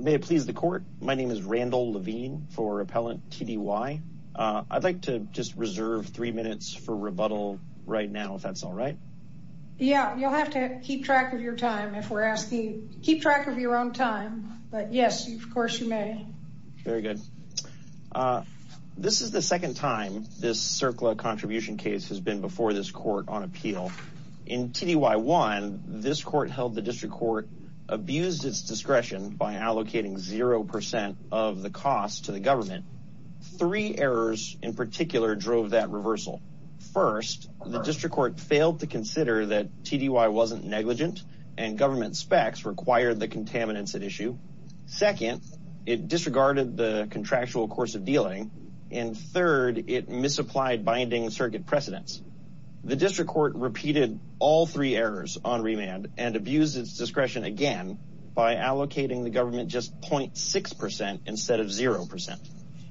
May it please the court. My name is Randall Levine for Appellant TDY. I'd like to just reserve three minutes for rebuttal right now if that's all right. Yeah, you'll have to keep track of your time if we're asking. Keep track of your own time, but yes, of course you may. Very good. This is the second time this CERCLA contribution case has been before this court on appeal. In TDY 1, this court held the district court abused its discretion by allocating 0% of the cost to the government. Three errors in particular drove that reversal. First, the district court failed to consider that TDY wasn't negligent and government specs required the contaminants at issue. Second, it disregarded the contractual course of dealing. And third, it misapplied binding circuit precedents. The district court repeated all three errors on remand and abused its discretion again by allocating the government just 0.6% instead of 0%.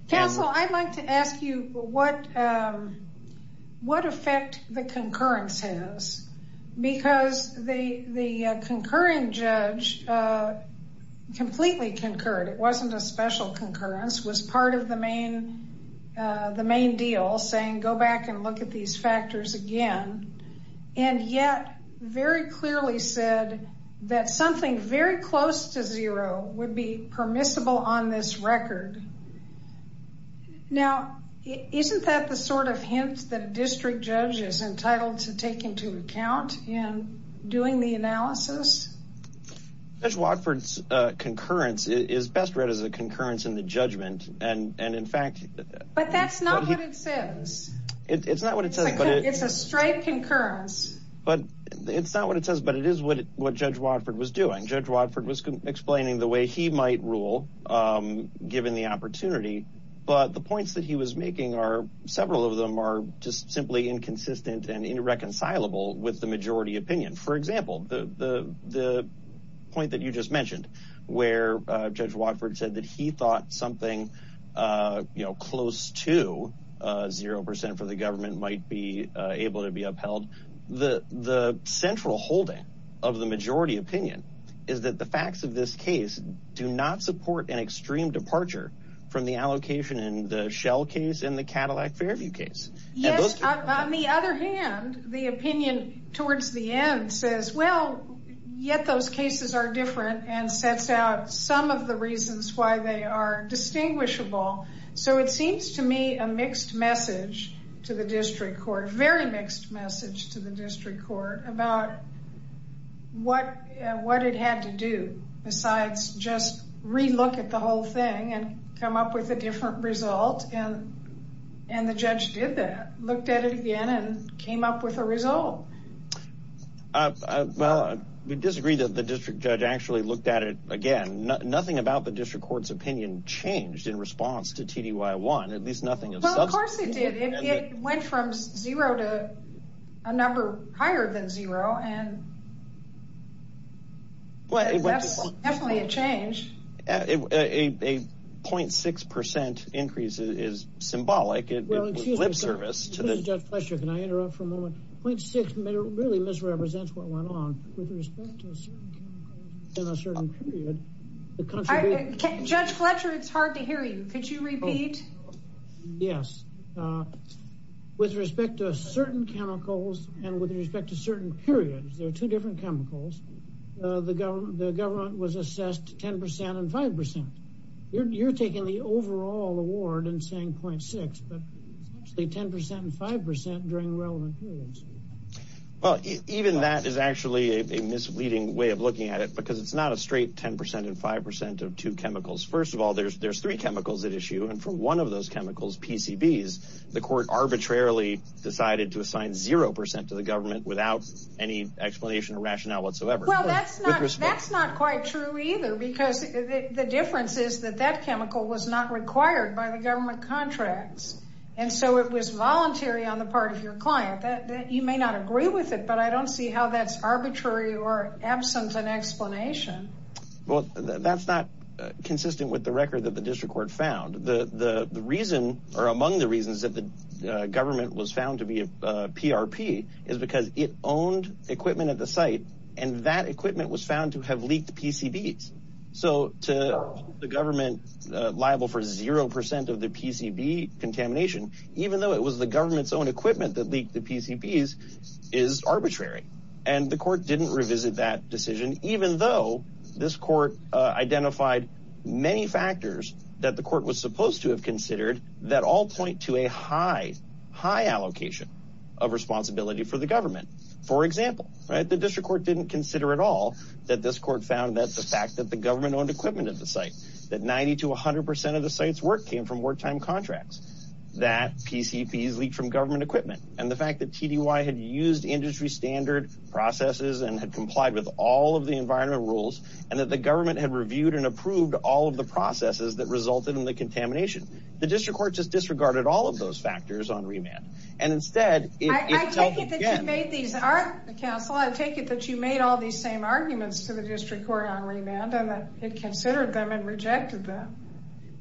Counsel, I'd like to ask you what what effect the concurrence has because the concurrent judge completely concurred. It wasn't a special concurrence. It was part of the main deal saying go back and look at these factors again and yet very clearly said that something very close to zero would be permissible on this record. Now, isn't that the sort of hint that a district judge is entitled to take into account in doing the analysis? Judge Watford's concurrence is best read as a concurrence in the judgment and and in fact But that's not what it says. It's not what it says, but it's a straight concurrence, but it's not what it says, but it is what what Judge Watford was doing. Judge Watford was explaining the way he might rule given the opportunity, but the points that he was making are several of them are just simply inconsistent and irreconcilable with the majority opinion. For example, the point that you just mentioned where Judge Watford said that he thought something you know close to zero percent for the government might be able to be upheld. The central holding of the majority opinion is that the facts of this case do not support an extreme departure from the allocation in the Shell case and the Cadillac Fairview case. On the other hand, the opinion towards the end says well yet those cases are different and sets out some of the reasons why they are distinguishable. So it seems to me a mixed message to the district court, very mixed message to the district court about what what it had to do besides just re-look at the whole thing and come up with a different result and and the judge did that, looked at it again and came up with a result. Well, we disagree that the district judge actually looked at it again. Nothing about the district court's opinion changed in response to TDY 1, at least nothing of substance. Of course it did. It went from zero to a number higher than zero and that's definitely a change. A 0.6 percent increase is symbolic. It was lip service to the... It really misrepresents what went on. Judge Fletcher, it's hard to hear you. Could you repeat? Yes. With respect to certain chemicals and with respect to certain periods, there are two different chemicals, the government was assessed 10% and 5%. You're taking the overall award and saying 0.6, but it's actually 10% and 5% during relevant periods. Well, even that is actually a misleading way of looking at it because it's not a straight 10% and 5% of two chemicals. First of all, there's there's three chemicals at issue and for one of those chemicals, PCBs, the court arbitrarily decided to assign 0% to the government without any explanation or rationale whatsoever. Well, that's not quite true either because the difference is that that chemical was not required by the government contracts and so it was voluntary on the part of your client that you may not agree with it, but I don't see how that's arbitrary or absent an explanation. Well, that's not consistent with the record that the district court found. The reason or among the reasons that the government was found to be a PRP is because it owned equipment at the site and that equipment was found to have leaked PCBs. So to the government liable for 0% of the PCB contamination, even though it was the government's own equipment that leaked the PCBs, is arbitrary and the court didn't revisit that decision even though this court identified many factors that the court was supposed to have considered that all point to a high, high allocation of responsibility for the government. For example, right, the district court didn't consider at all that this court found that the fact that the government owned equipment at the site, that 90 to 100% of the site's work came from wartime contracts, that PCBs leaked from government equipment, and the fact that TDY had used industry standard processes and had complied with all of the environment rules and that the government had reviewed and approved all of the processes that resulted in the contamination. The district court just disregarded all of those factors on remand and instead... I take it that you made these...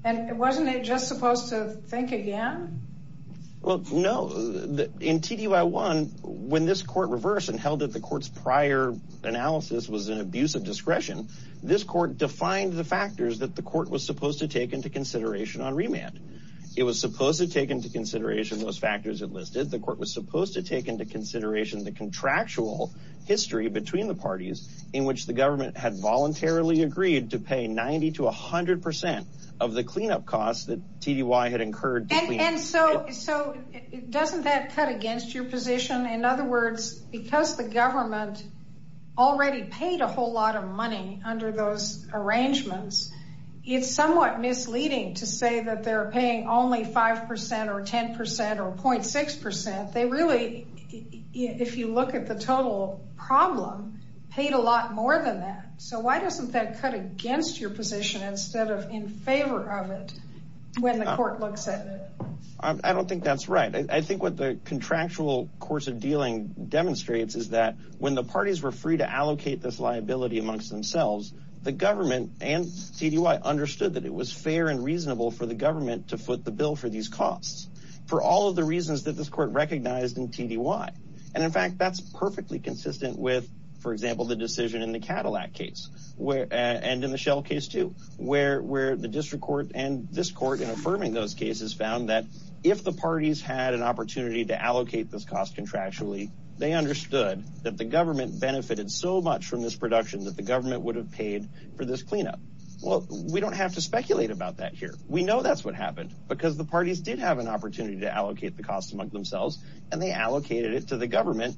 And wasn't it just supposed to think again? Well, no. In TDY 1, when this court reversed and held that the court's prior analysis was an abuse of discretion, this court defined the factors that the court was supposed to take into consideration on remand. It was supposed to take into consideration those factors it listed. The court was supposed to take into consideration the contractual history between the parties in which the government had voluntarily agreed to pay 90 to 100% of the cleanup costs that TDY had incurred. And so, so, doesn't that cut against your position? In other words, because the government already paid a whole lot of money under those arrangements, it's somewhat misleading to say that they're paying only 5% or 10% or 0.6%. They really... If you look at the total problem, paid a lot more than that. So why doesn't that cut against your position instead of in favor of it when the court looks at it? I don't think that's right. I think what the contractual course of dealing demonstrates is that when the parties were free to allocate this liability amongst themselves, the government and TDY understood that it was fair and reasonable for the government to foot the bill for these costs for all of the reasons that this court recognized in TDY. And in fact, that's perfectly consistent with, for example, the decision in the Cadillac case, and in the Shell case too, where the district court and this court in affirming those cases found that if the parties had an opportunity to allocate this cost contractually, they understood that the government benefited so much from this production that the government would have paid for this cleanup. Well, we don't have to speculate about that here. We know that's what happened, because the parties did have an opportunity to allocate the cost amongst themselves, and they allocated it to the government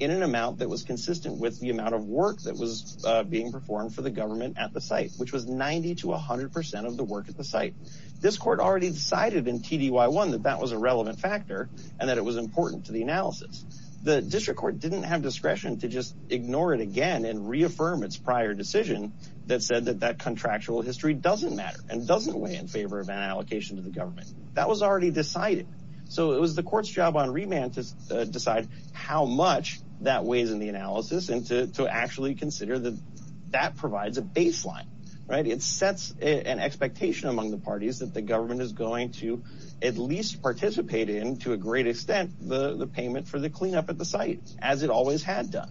in an amount that was consistent with the amount of work that was being performed for the government at the site, which was 90 to 100% of the work at the site. This court already decided in TDY1 that that was a relevant factor and that it was important to the analysis. The district court didn't have discretion to just ignore it again and reaffirm its prior decision that said that that contractual history doesn't matter and doesn't weigh in favor of an allocation to the government. That was already decided. So it was the court's job on remand to decide how much that weighs in the analysis and to actually consider that that provides a baseline. It sets an expectation among the parties that the government is going to at least participate in, to a great extent, the payment for the cleanup at the site, as it always had done.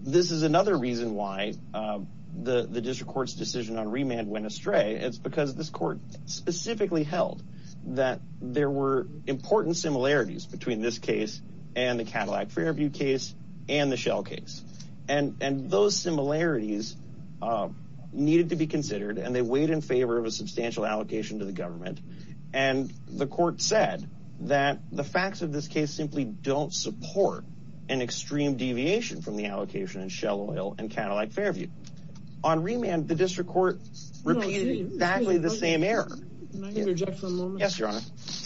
This is another reason why the district court's decision on remand went astray. It's because this court specifically held that there were important similarities between this case and the Cadillac Fairview case and the Shell case. Those similarities needed to be considered, and they weighed in favor of a substantial allocation to the government. The court said that the facts of this case simply don't support an extreme deviation from the allocation in Shell Oil and Cadillac Fairview. On remand, the district court repeated exactly the same error. Can I interject for a moment? Yes, Your Honor.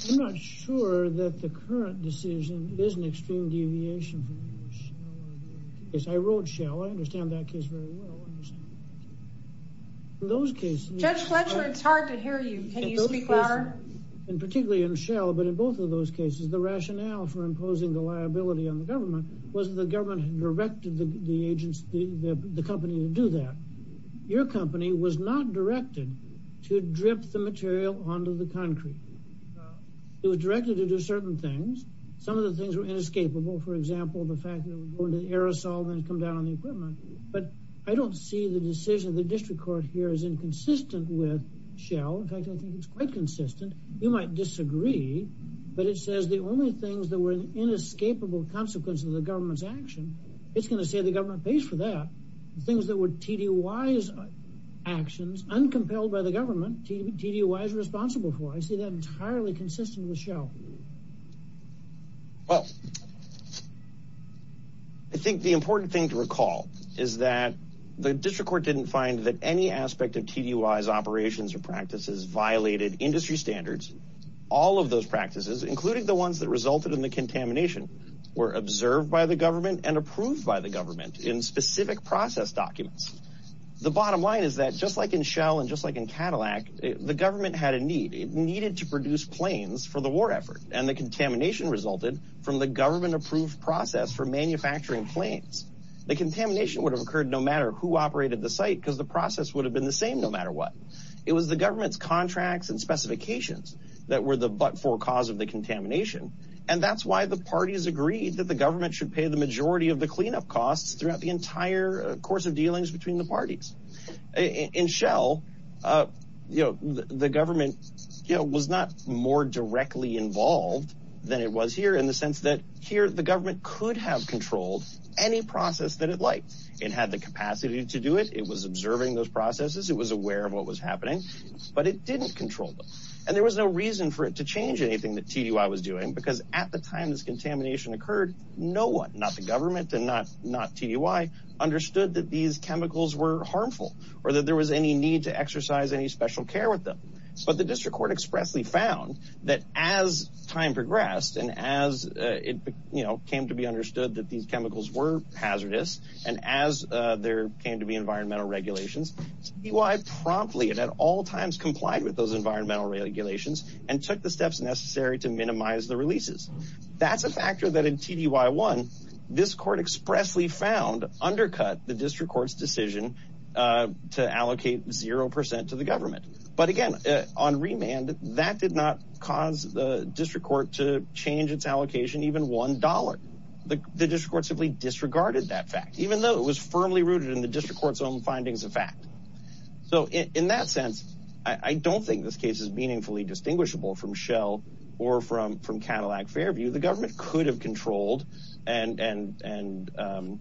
I'm not sure that the current decision is an extreme deviation from the Shell Oil case. I wrote Shell. I understand that case very well. Judge Fletcher, it's hard to hear you. Can you speak louder? Particularly in Shell, but in both of those cases, the rationale for imposing the liability on the government was that the government had directed the company to do that. Your company was not directed to drip the material onto the concrete. It was directed to do certain things. Some of the things were inescapable. For example, the fact that it would go into the aerosol and come down on the equipment. But I don't see the decision of the district court here as inconsistent with Shell. In fact, I think it's quite consistent. You might disagree, but it says the only things that were an inescapable consequence of the government's action, it's going to say the government pays for that. The things that were TDY's actions, uncompelled by the government, TDY's responsible for. I see that entirely consistent with Shell. Well, I think the important thing to recall is that the district court didn't find that any aspect of TDY's operations or practices violated industry standards. All of those practices, including the ones that resulted in the contamination, were observed by the government and approved by the government in specific process documents. The bottom line is that just like in Shell and just like in Cadillac, the government had a need. It needed to produce planes for the war effort. And the contamination resulted from the government-approved process for manufacturing planes. The contamination would have occurred no matter who operated the site because the process would have been the same no matter what. It was the government's contracts and specifications that were the but-for cause of the contamination. And that's why the parties agreed that the government should pay the majority of the cleanup costs throughout the entire course of dealings between the parties. In Shell, the government was not more directly involved than it was here in the sense that here the government could have controlled any process that it liked. It had the capacity to do it. It was observing those processes. It was aware of what was happening. But it didn't control them. And there was no reason for it to change anything that TDY was doing because at the time this contamination occurred, no one, not the government and not TDY, understood that these chemicals were harmful or that there was any need to exercise any special care with them. But the district court expressly found that as time progressed and as it came to be understood that these chemicals were hazardous and as there came to be environmental regulations, TDY promptly and at all times complied with those environmental regulations and took the steps necessary to minimize the releases. That's a factor that in TDY 1, this court expressly found undercut the district court's decision to allocate 0% to the government. But again, on remand, that did not cause the district court to change its allocation even one dollar. The district court simply disregarded that fact even though it was firmly rooted in the district court's own findings of fact. So in that sense, I don't think this case is meaningfully distinguishable from Shell or from Cadillac Fairview. The government could have controlled and done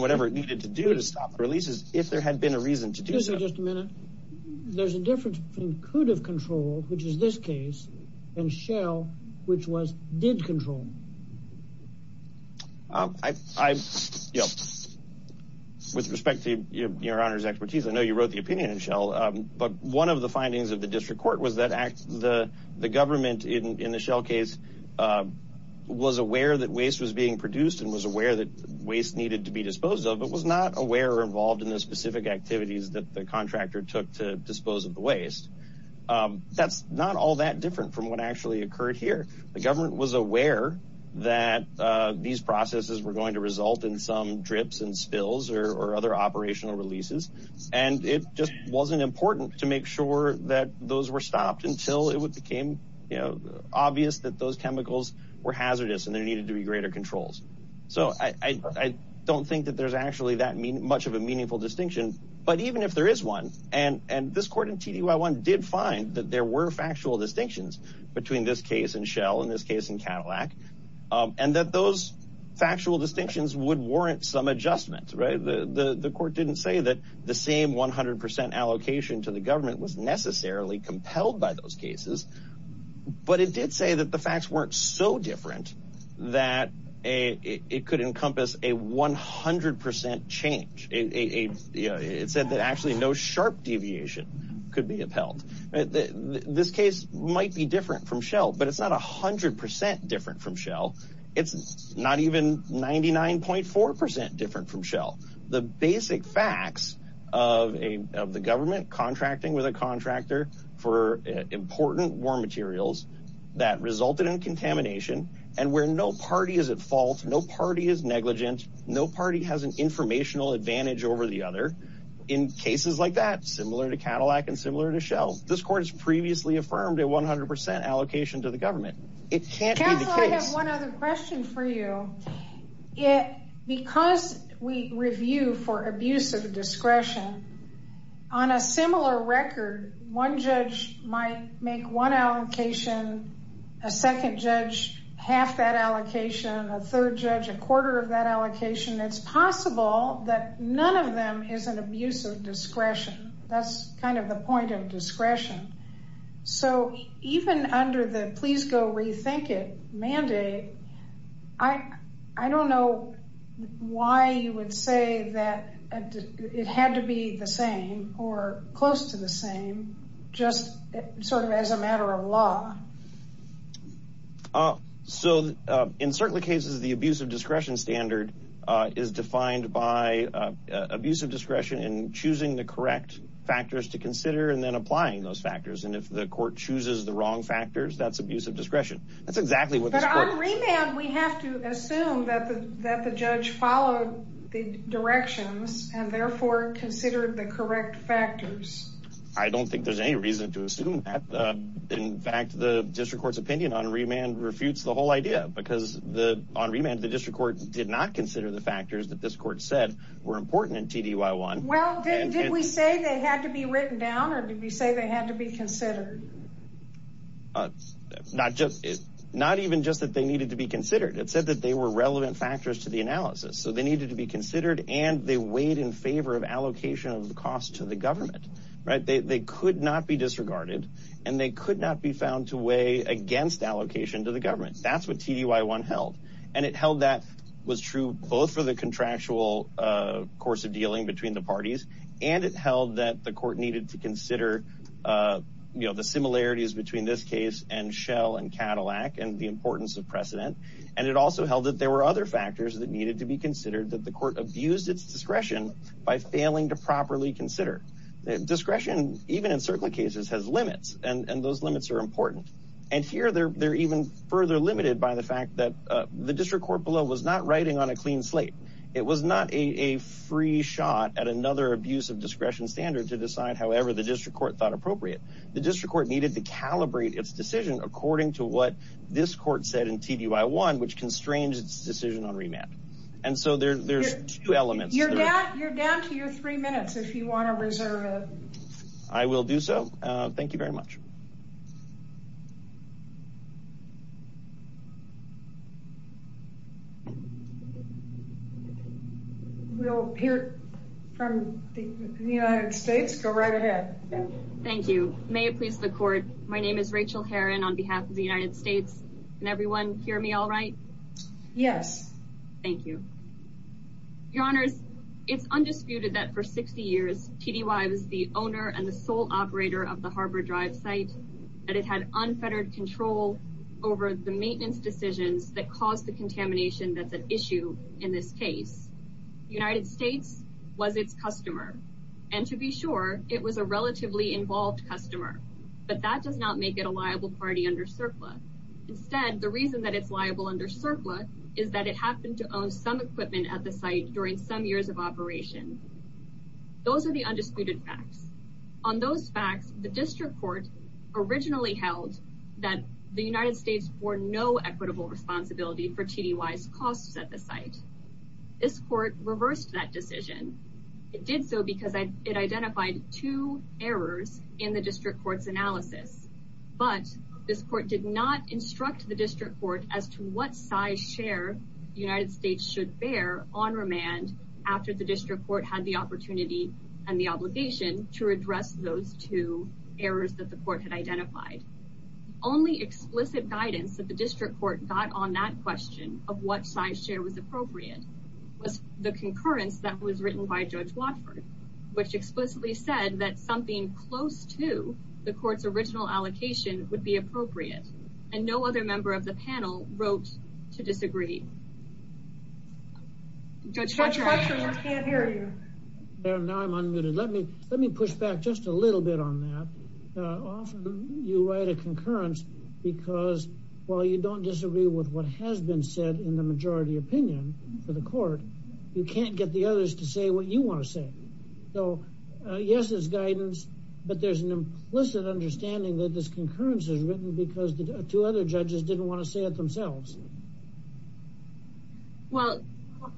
whatever it needed to do to stop the releases if there had been a reason to do so. Excuse me just a minute. There's a difference between could have controlled, which is this case, and Shell, which was did control. With respect to your Honor's expertise, I know you wrote the opinion in Shell, but one of the findings of the district court was that the government in the Shell case was aware that waste was being produced and was aware that waste needed to be disposed of but was not aware or involved in the specific activities that the contractor took to dispose of the waste. That's not all that different from what actually occurred here. The government was aware that these processes were going to result in some drips and spills or other operational releases and it just wasn't important to make sure that those were stopped until it became obvious that those chemicals were hazardous and there needed to be greater controls. So I don't think that there's actually that much of a meaningful distinction, but even if there is one, and this court in TDY1 did find that there were factual distinctions between this case in Shell and this case in Cadillac and that those factual distinctions would warrant some adjustment. The court didn't say that the same 100% allocation to the government was necessarily compelled by those cases, but it did say that the facts weren't so different that it could encompass a 100% change. It said that actually no sharp deviation could be upheld. This case might be different from Shell, but it's not 100% different from Shell. It's not even 99.4% different from Shell. The basic facts of the government contracting with a contractor for important war materials that resulted in contamination and where no party is at fault, no party is negligent, no party has an informational advantage over the other in cases like that, similar to Cadillac and similar to Shell. This court has previously affirmed a 100% allocation to the government. It can't be the case. I have one other question for you. Because we review for abuse of discretion, on a similar record, one judge might make one allocation, a second judge half that allocation, a third judge a quarter of that allocation. It's possible that none of them is an abuse of discretion. That's kind of the point of discretion. Even under the please go rethink it mandate, I don't know why you would say that it had to be the same or close to the same just sort of as a matter of law. In certain cases, the abuse of discretion standard is defined by abuse of discretion and choosing the correct factors to consider and then applying those factors. If the court chooses the wrong factors, that's abuse of discretion. But on remand, we have to assume that the judge followed the directions and therefore considered the correct factors. I don't think there's any reason to assume that. In fact, the district court's opinion on remand refutes the whole idea. On remand, the district court did not consider the factors that this court said were important in TDY 1. Well, did we say they had to be written down or did we say they had to be considered? Not even just that they needed to be considered. It said that they were relevant factors to the analysis. So they needed to be considered and they weighed in favor of allocation of the cost to the government. They could not be disregarded and they could not be found to weigh against allocation to the government. That's what TDY 1 held. And it held that was true both for the contractual course of dealing between the parties and it held that the court needed to consider the similarities between this case and Schell and Cadillac and the importance of precedent. And it also held that there were other factors that needed to be considered that the court abused its discretion by failing to properly consider. Discretion, even in circling cases, has limits and those limits are important. And here, they're even further limited by the fact that the district court below was not writing on a clean slate. It was not a free shot at another abuse of discretion standard to decide however the district court thought appropriate. The district court needed to calibrate its decision according to what this court said in TDY 1 which constrains its decision on remand. And so there's two elements. You're down to your three minutes if you want to reserve it. I will do so. Thank you very much. We'll hear from the United States. Go right ahead. Thank you. May it please the court. My name is Rachel Heron on behalf of the United States. Can everyone hear me all right? Yes. Thank you. Your Honors, it's undisputed that for 60 years TDY was the owner and the sole operator of the Harbor Drive site and it had unfettered control over the maintenance decisions that caused the contamination that's an issue in this case. The United States was its customer and to be sure it was a relatively involved customer but that does not make it a liable party under CERCLA. Instead, the reason that it's liable under CERCLA is that it happened to own some equipment at the site during some years of operation. Those are the undisputed facts. On those facts the district court originally held that the United States bore no equitable responsibility for TDY's costs at the site. This court reversed that decision. It did so because it identified two errors in the district court's analysis but this court did not instruct the district court as to what size share the United States should bear on remand after the district court had the opportunity and the obligation to address those two errors that it identified. Only explicit guidance that the district court got on that question of what size share was appropriate was the concurrence that was written by Judge Watford which explicitly said that something close to the court's original allocation would be appropriate and no other member of the panel wrote to disagree. Judge Watford, we can't hear you. Now I'm unmuted. Let me push back just a little bit on that. Often you write a concurrence because while you don't disagree with what has been said in the majority opinion for the court you can't get the others to say what you want to say. Yes, it's guidance but there's an implicit understanding that this concurrence is written because the two other judges didn't want to say it themselves.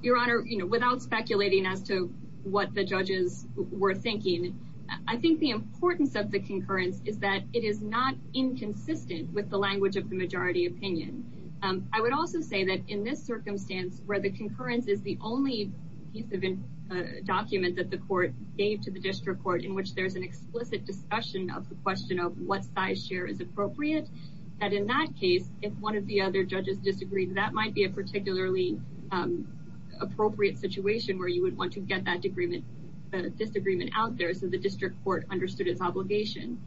Your Honor, without speculating as to what the judges were thinking, I think the importance of the concurrence is that it is not inconsistent with the language of the majority opinion. I would also say that in this circumstance where the concurrence is the only piece of document that the court gave to the district court in which there's an explicit discussion of the question of what size share is appropriate, that in that case if one of the other judges disagreed that might be a particularly appropriate situation where you would want to get that disagreement out there so the district court understood its obligation.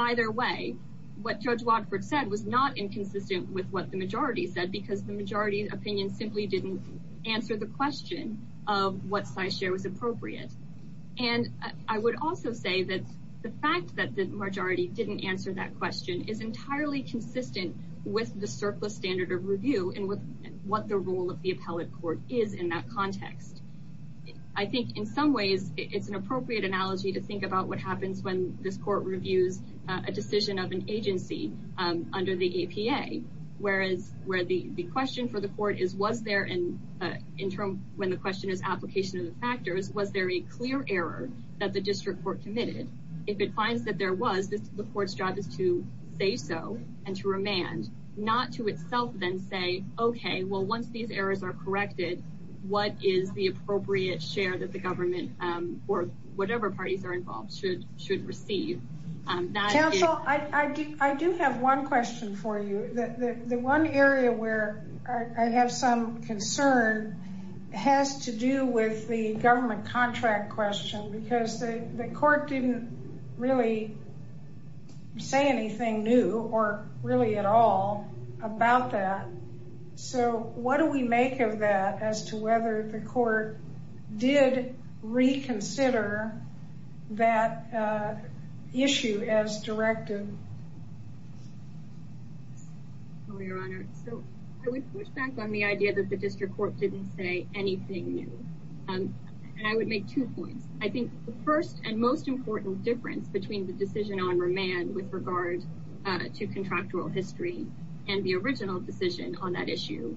Either way, what Judge Watford said was not inconsistent with what the majority said because the majority opinion simply didn't answer the question of what size share was appropriate. I would also say that the fact that the majority didn't answer that question is entirely consistent with the surplus standard of review and with what the role of the I think in some ways it's an appropriate analogy to think about what happens when this court reviews a decision of an agency under the APA where the question for the court is was there when the question is application of the factors was there a clear error that the district court committed? If it finds that there was, the court's job is to say so and to remand not to itself then say okay, well once these errors are corrected what is the appropriate share that the government or whatever parties are involved should receive. Council, I do have one question for you. The one area where I have some concern has to do with the government contract question because the court didn't really say anything new or really at all about that. So, what do we make of that as to whether the court did reconsider that issue as directed? Your Honor, so I would push back on the idea that the district court didn't say anything new and I would make two points. I think the first and most important difference between the decision on remand with regard to contractual history and the original decision on that issue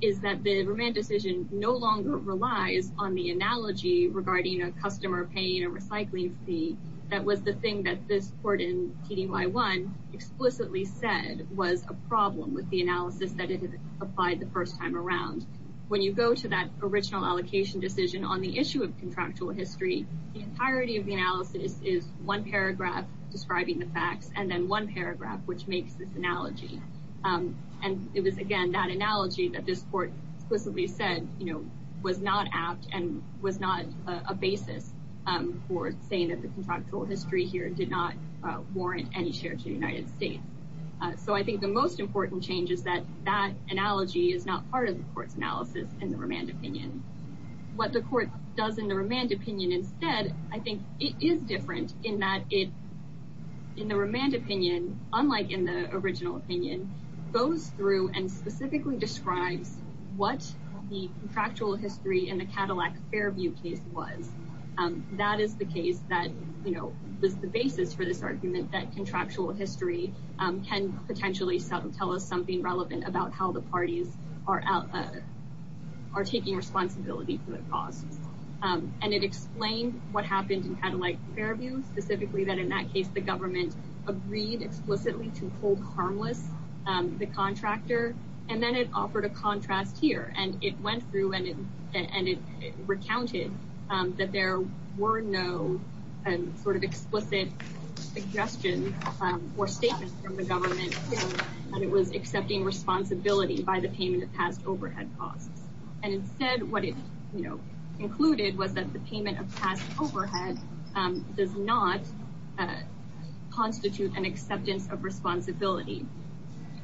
is that the remand decision no longer relies on the analogy regarding a customer paying a recycling fee that was the thing that this court in TDY 1 explicitly said was a problem with the analysis that it had applied the first time around. When you go to that original allocation decision on the issue of contractual history, the entirety of the analysis is one paragraph describing the facts and then one and it was, again, that analogy that this court explicitly said was not apt and was not a basis for saying that the contractual history here did not warrant any share to the United States. So, I think the most important change is that that analogy is not part of the court's analysis in the remand opinion. What the court does in the remand opinion instead, I think it is different in that it in the remand opinion unlike in the original opinion goes through and specifically describes what the contractual history in the Cadillac Fairview case was. That is the case that was the basis for this argument that contractual history can potentially tell us something relevant about how the parties are taking responsibility for their costs. And it explained what happened in Cadillac Fairview, specifically that in that case the government agreed explicitly to hold harmless the contractor and then it offered a contrast here and it went through and it recounted that there were no sort of explicit suggestion or statement from the government that it was accepting responsibility by the payment of past overhead costs and instead what it included was that the payment of past overhead does not constitute an acceptance of responsibility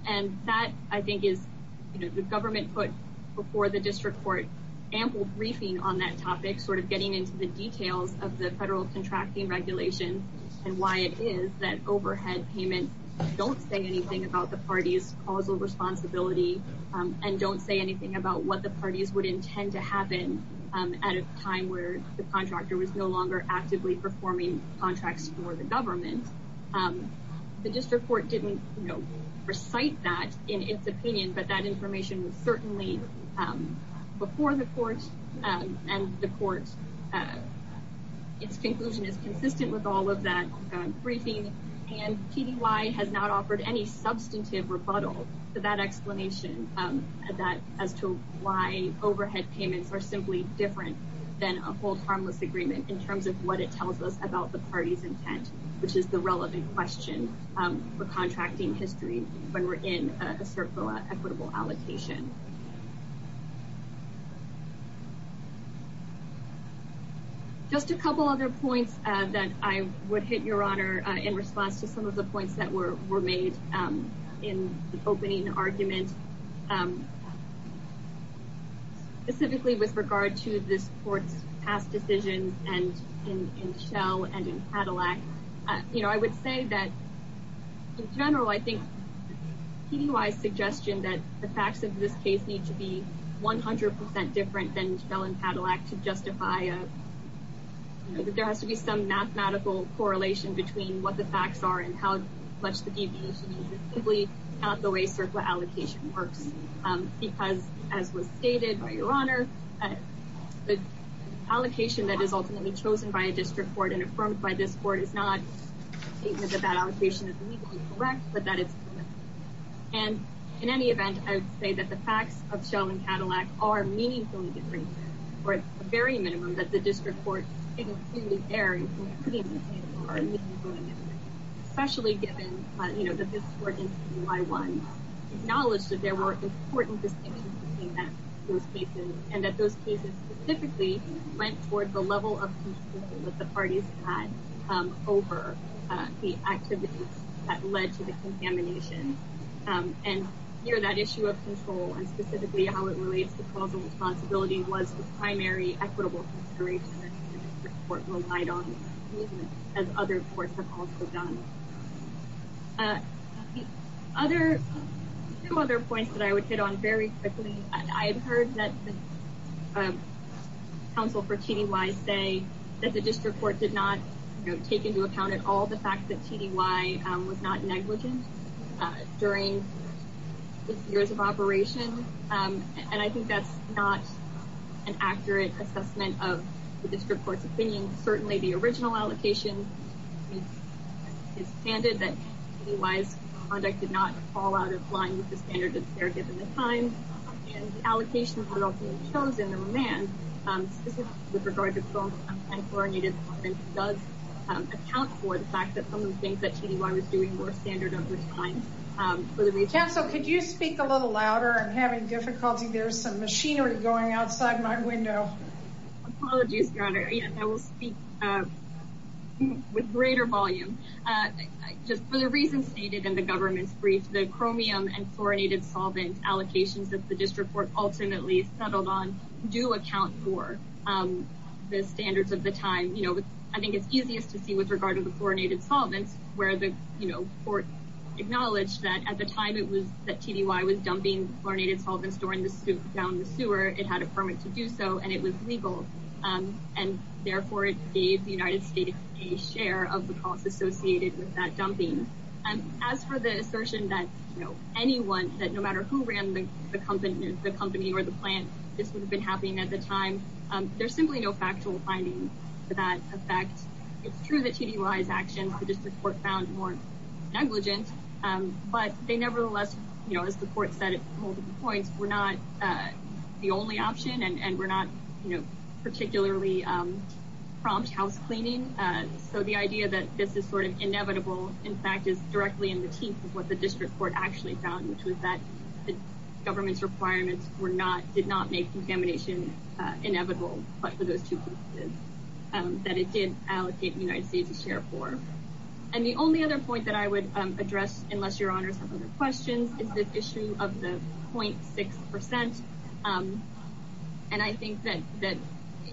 and that I think is the government put before the district court ample briefing on that topic, sort of getting into the details of the federal contracting regulations and why it is that overhead payments don't say anything about the parties' causal responsibility and don't say anything about what the parties would intend to happen at a time where the contractor was no longer actively performing contracts for the government. The district court didn't recite that in its opinion but that information was certainly before the court and the court its conclusion is consistent with all of that briefing and PDY has not offered any substantive rebuttal to that explanation as to why overhead payments are simply different than a hold harmless agreement in terms of what it tells us about the parties' intent which is the relevant question for contracting history when we're in a CERF equitable allocation. Just a couple other points that I would hit your honor in response to some of the points that were made in the opening argument specifically with regard to this court's past decisions in Shell and in Cadillac I would say that in general I think PDY's suggestion that the facts of this case need to be 100% different than Shell and Cadillac to justify that there has to be some mathematical correlation between what the facts are and how much the deviation is simply not the way CERF allocation works because as was stated by your honor the allocation that is ultimately chosen by a district court and affirmed by this court is not a statement that that allocation is legally correct but that it's permissible and in any event I would say that the facts of Shell and Cadillac are meaningfully different or at the very minimum that the district court is clearly there especially given that this court in PDY 1 acknowledged that there were important distinctions between those cases and that those cases specifically went toward the level of control that the parties had over the activities that led to the contamination and that issue of control and specifically how it relates to causal responsibility was the primary equitable consideration that the district court relied on as other courts have also done. Two other points that I would hit on very quickly. I've heard that the counsel for TDY say that the district court did not take into account at all the fact that TDY was not negligent during years of operation and I think that's not an accurate assessment of the district court's opinion. Certainly the original allocation is standard that TDY's conduct did not fall out of line with the standard that's there given the time and the allocations were ultimately chosen. The remand specifically with regard to our Native Department does account for the fact that some of the things that TDY was doing were standard of the time for the region. So could you speak a little louder? I'm having difficulty there's some machinery going outside my window. Apologies Your Honor. I will speak with greater volume. Just for the reasons stated in the government's brief, the chromium and fluorinated solvent allocations that the district court ultimately settled on do account for the standards of the time. I think it's easiest to see with regard to the fluorinated solvents where the court acknowledged that at the time that TDY was dumping fluorinated solvents down the sewer, it had a permit to do so and it was legal and therefore it gave the United States a share of the costs associated with that dumping. As for the assertion that anyone, that no matter who ran the company or the plant, this would have been happening at the time there's simply no factual finding for that effect. It's true that TDY's actions, the district court found more negligent but they nevertheless as the court said at multiple points were not the only option and were not particularly prompt house cleaning. The idea that this is inevitable in fact is directly in the teeth of what the district court actually found which was that the government's requirements did not make contamination inevitable but for those two reasons that it did allocate the United States a share for. The only other point that I would question is the issue of the 0.6% and I think that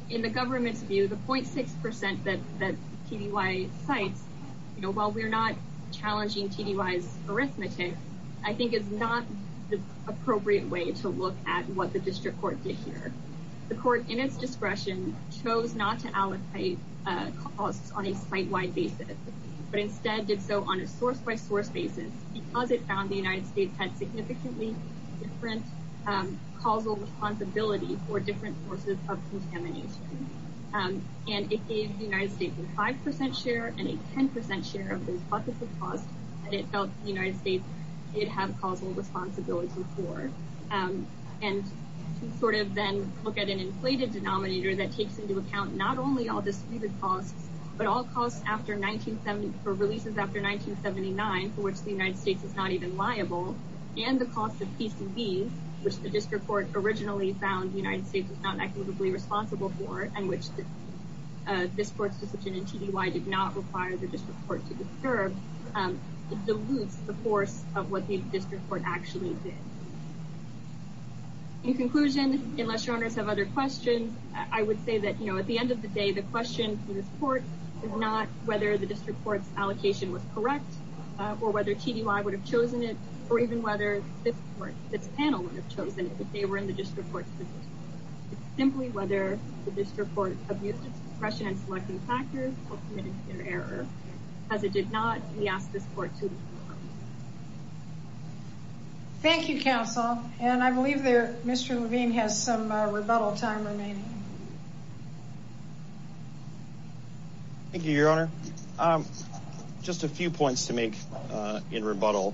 in the government's view the 0.6% that TDY cites, you know while we're not challenging TDY's arithmetic, I think it's not the appropriate way to look at what the district court did here. The court in its discretion chose not to allocate costs on a site-wide basis but instead did so on a source-by-source basis because it found the United States had significantly different causal responsibility for different sources of contamination and it gave the United States a 5% share and a 10% share of the cost that it felt the United States did have causal responsibility for and to sort of then look at an inflated denominator that takes into account not only all disputed costs but all costs after for releases after 1979 for which the United States is not even liable and the cost of PCBs, which the district court originally found the United States was not equitably responsible for and which this court's decision in TDY did not require the district court to disturb, dilutes the force of what the district court actually did. In conclusion, unless your owners have other questions, I would say that at the end of the day the question for this court is not whether the district court's allocation was correct or whether TDY would have chosen it or even whether this panel would have chosen it if they were in the district court's position. It's simply whether the district court abused its discretion in selecting factors or committed an error. As it did not, we ask this court to leave the room. Thank you, counsel, and I believe there Mr. Levine has some rebuttal time remaining. Thank you, Your Honor. Just a few points to make in rebuttal.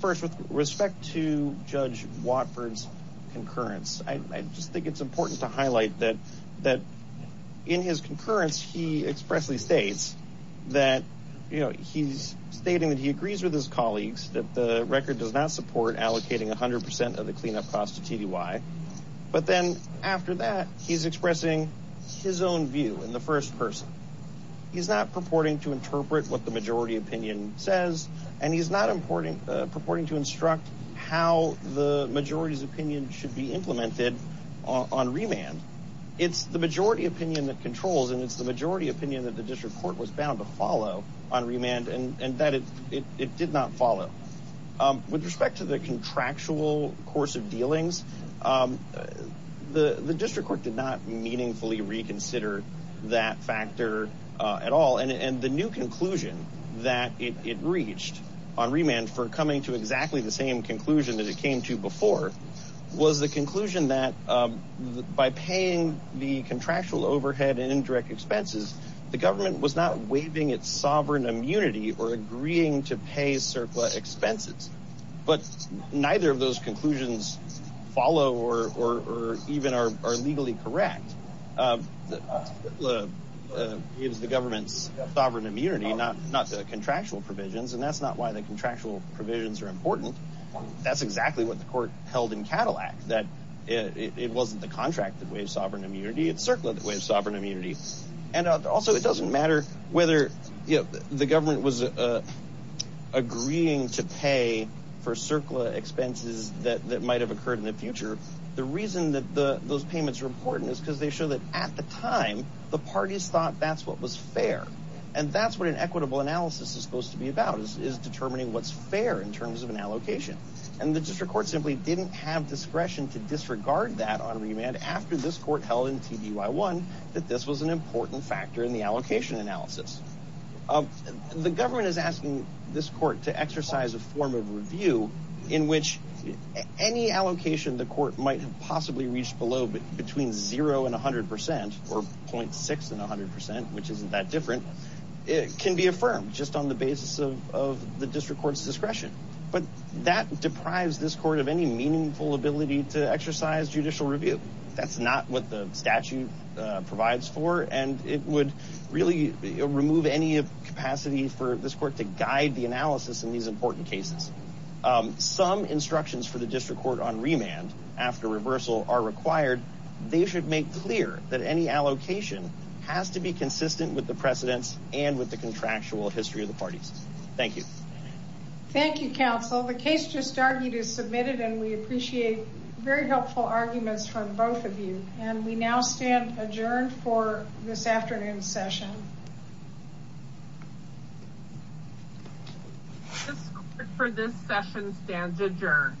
First, with respect to Judge Watford's concurrence, I just think it's important to highlight that in his concurrence he expressly states that he's stating that he agrees with his colleagues that the record does not support allocating 100% of the cleanup cost to TDY, but then after that he's expressing his own view in the first person. He's not purporting to interpret what the majority opinion says and he's not purporting to instruct how the majority's opinion should be implemented on remand. It's the majority opinion that controls and it's the majority opinion that the district court was bound to follow on remand and that it did not follow. With respect to the contractual course of dealings, the district court did not meaningfully reconsider that factor at all and the new conclusion that it reached on remand for coming to exactly the same conclusion that it came to before was the conclusion that by paying the contractual overhead and indirect expenses the government was not waiving its sovereign immunity or agreeing to pay CERCLA expenses. But neither of those conclusions follow or even are legally correct. CERCLA gives the government sovereign immunity, not contractual provisions and that's not why the contractual provisions are important. That's exactly what the court held in Cadillac, that it wasn't the contract that waived sovereign immunity, it's CERCLA that waived sovereign immunity. Also, it doesn't matter whether the government was agreeing to pay for CERCLA expenses that might have occurred in the future, the reason that those payments are important is because they show that at the time the parties thought that's what was fair and that's what an equitable analysis is supposed to be about, is determining what's fair in terms of an allocation. And the district court simply didn't have discretion to disregard that on remand after this court held in TDY 1 that this was an important factor in the allocation analysis. The government is asking this court to exercise a form of review in which any allocation the court might have possibly reached below between 0 and 100 percent, or 0.6 and 100 percent, which isn't that different, can be affirmed just on the basis of the district court's discretion. But that deprives this court of any meaningful ability to exercise judicial review. That's not what the statute provides for and it would really remove any capacity for this court to guide the analysis in these important cases. Some instructions for the district court on remand after reversal are required. They should make clear that any allocation has to be consistent with the precedents and with the contractual history of the parties. Thank you. Thank you, counsel. The case just argued is submitted and we appreciate very helpful arguments from both of you. And we now stand adjourned for this afternoon's session. This court for this session stands adjourned.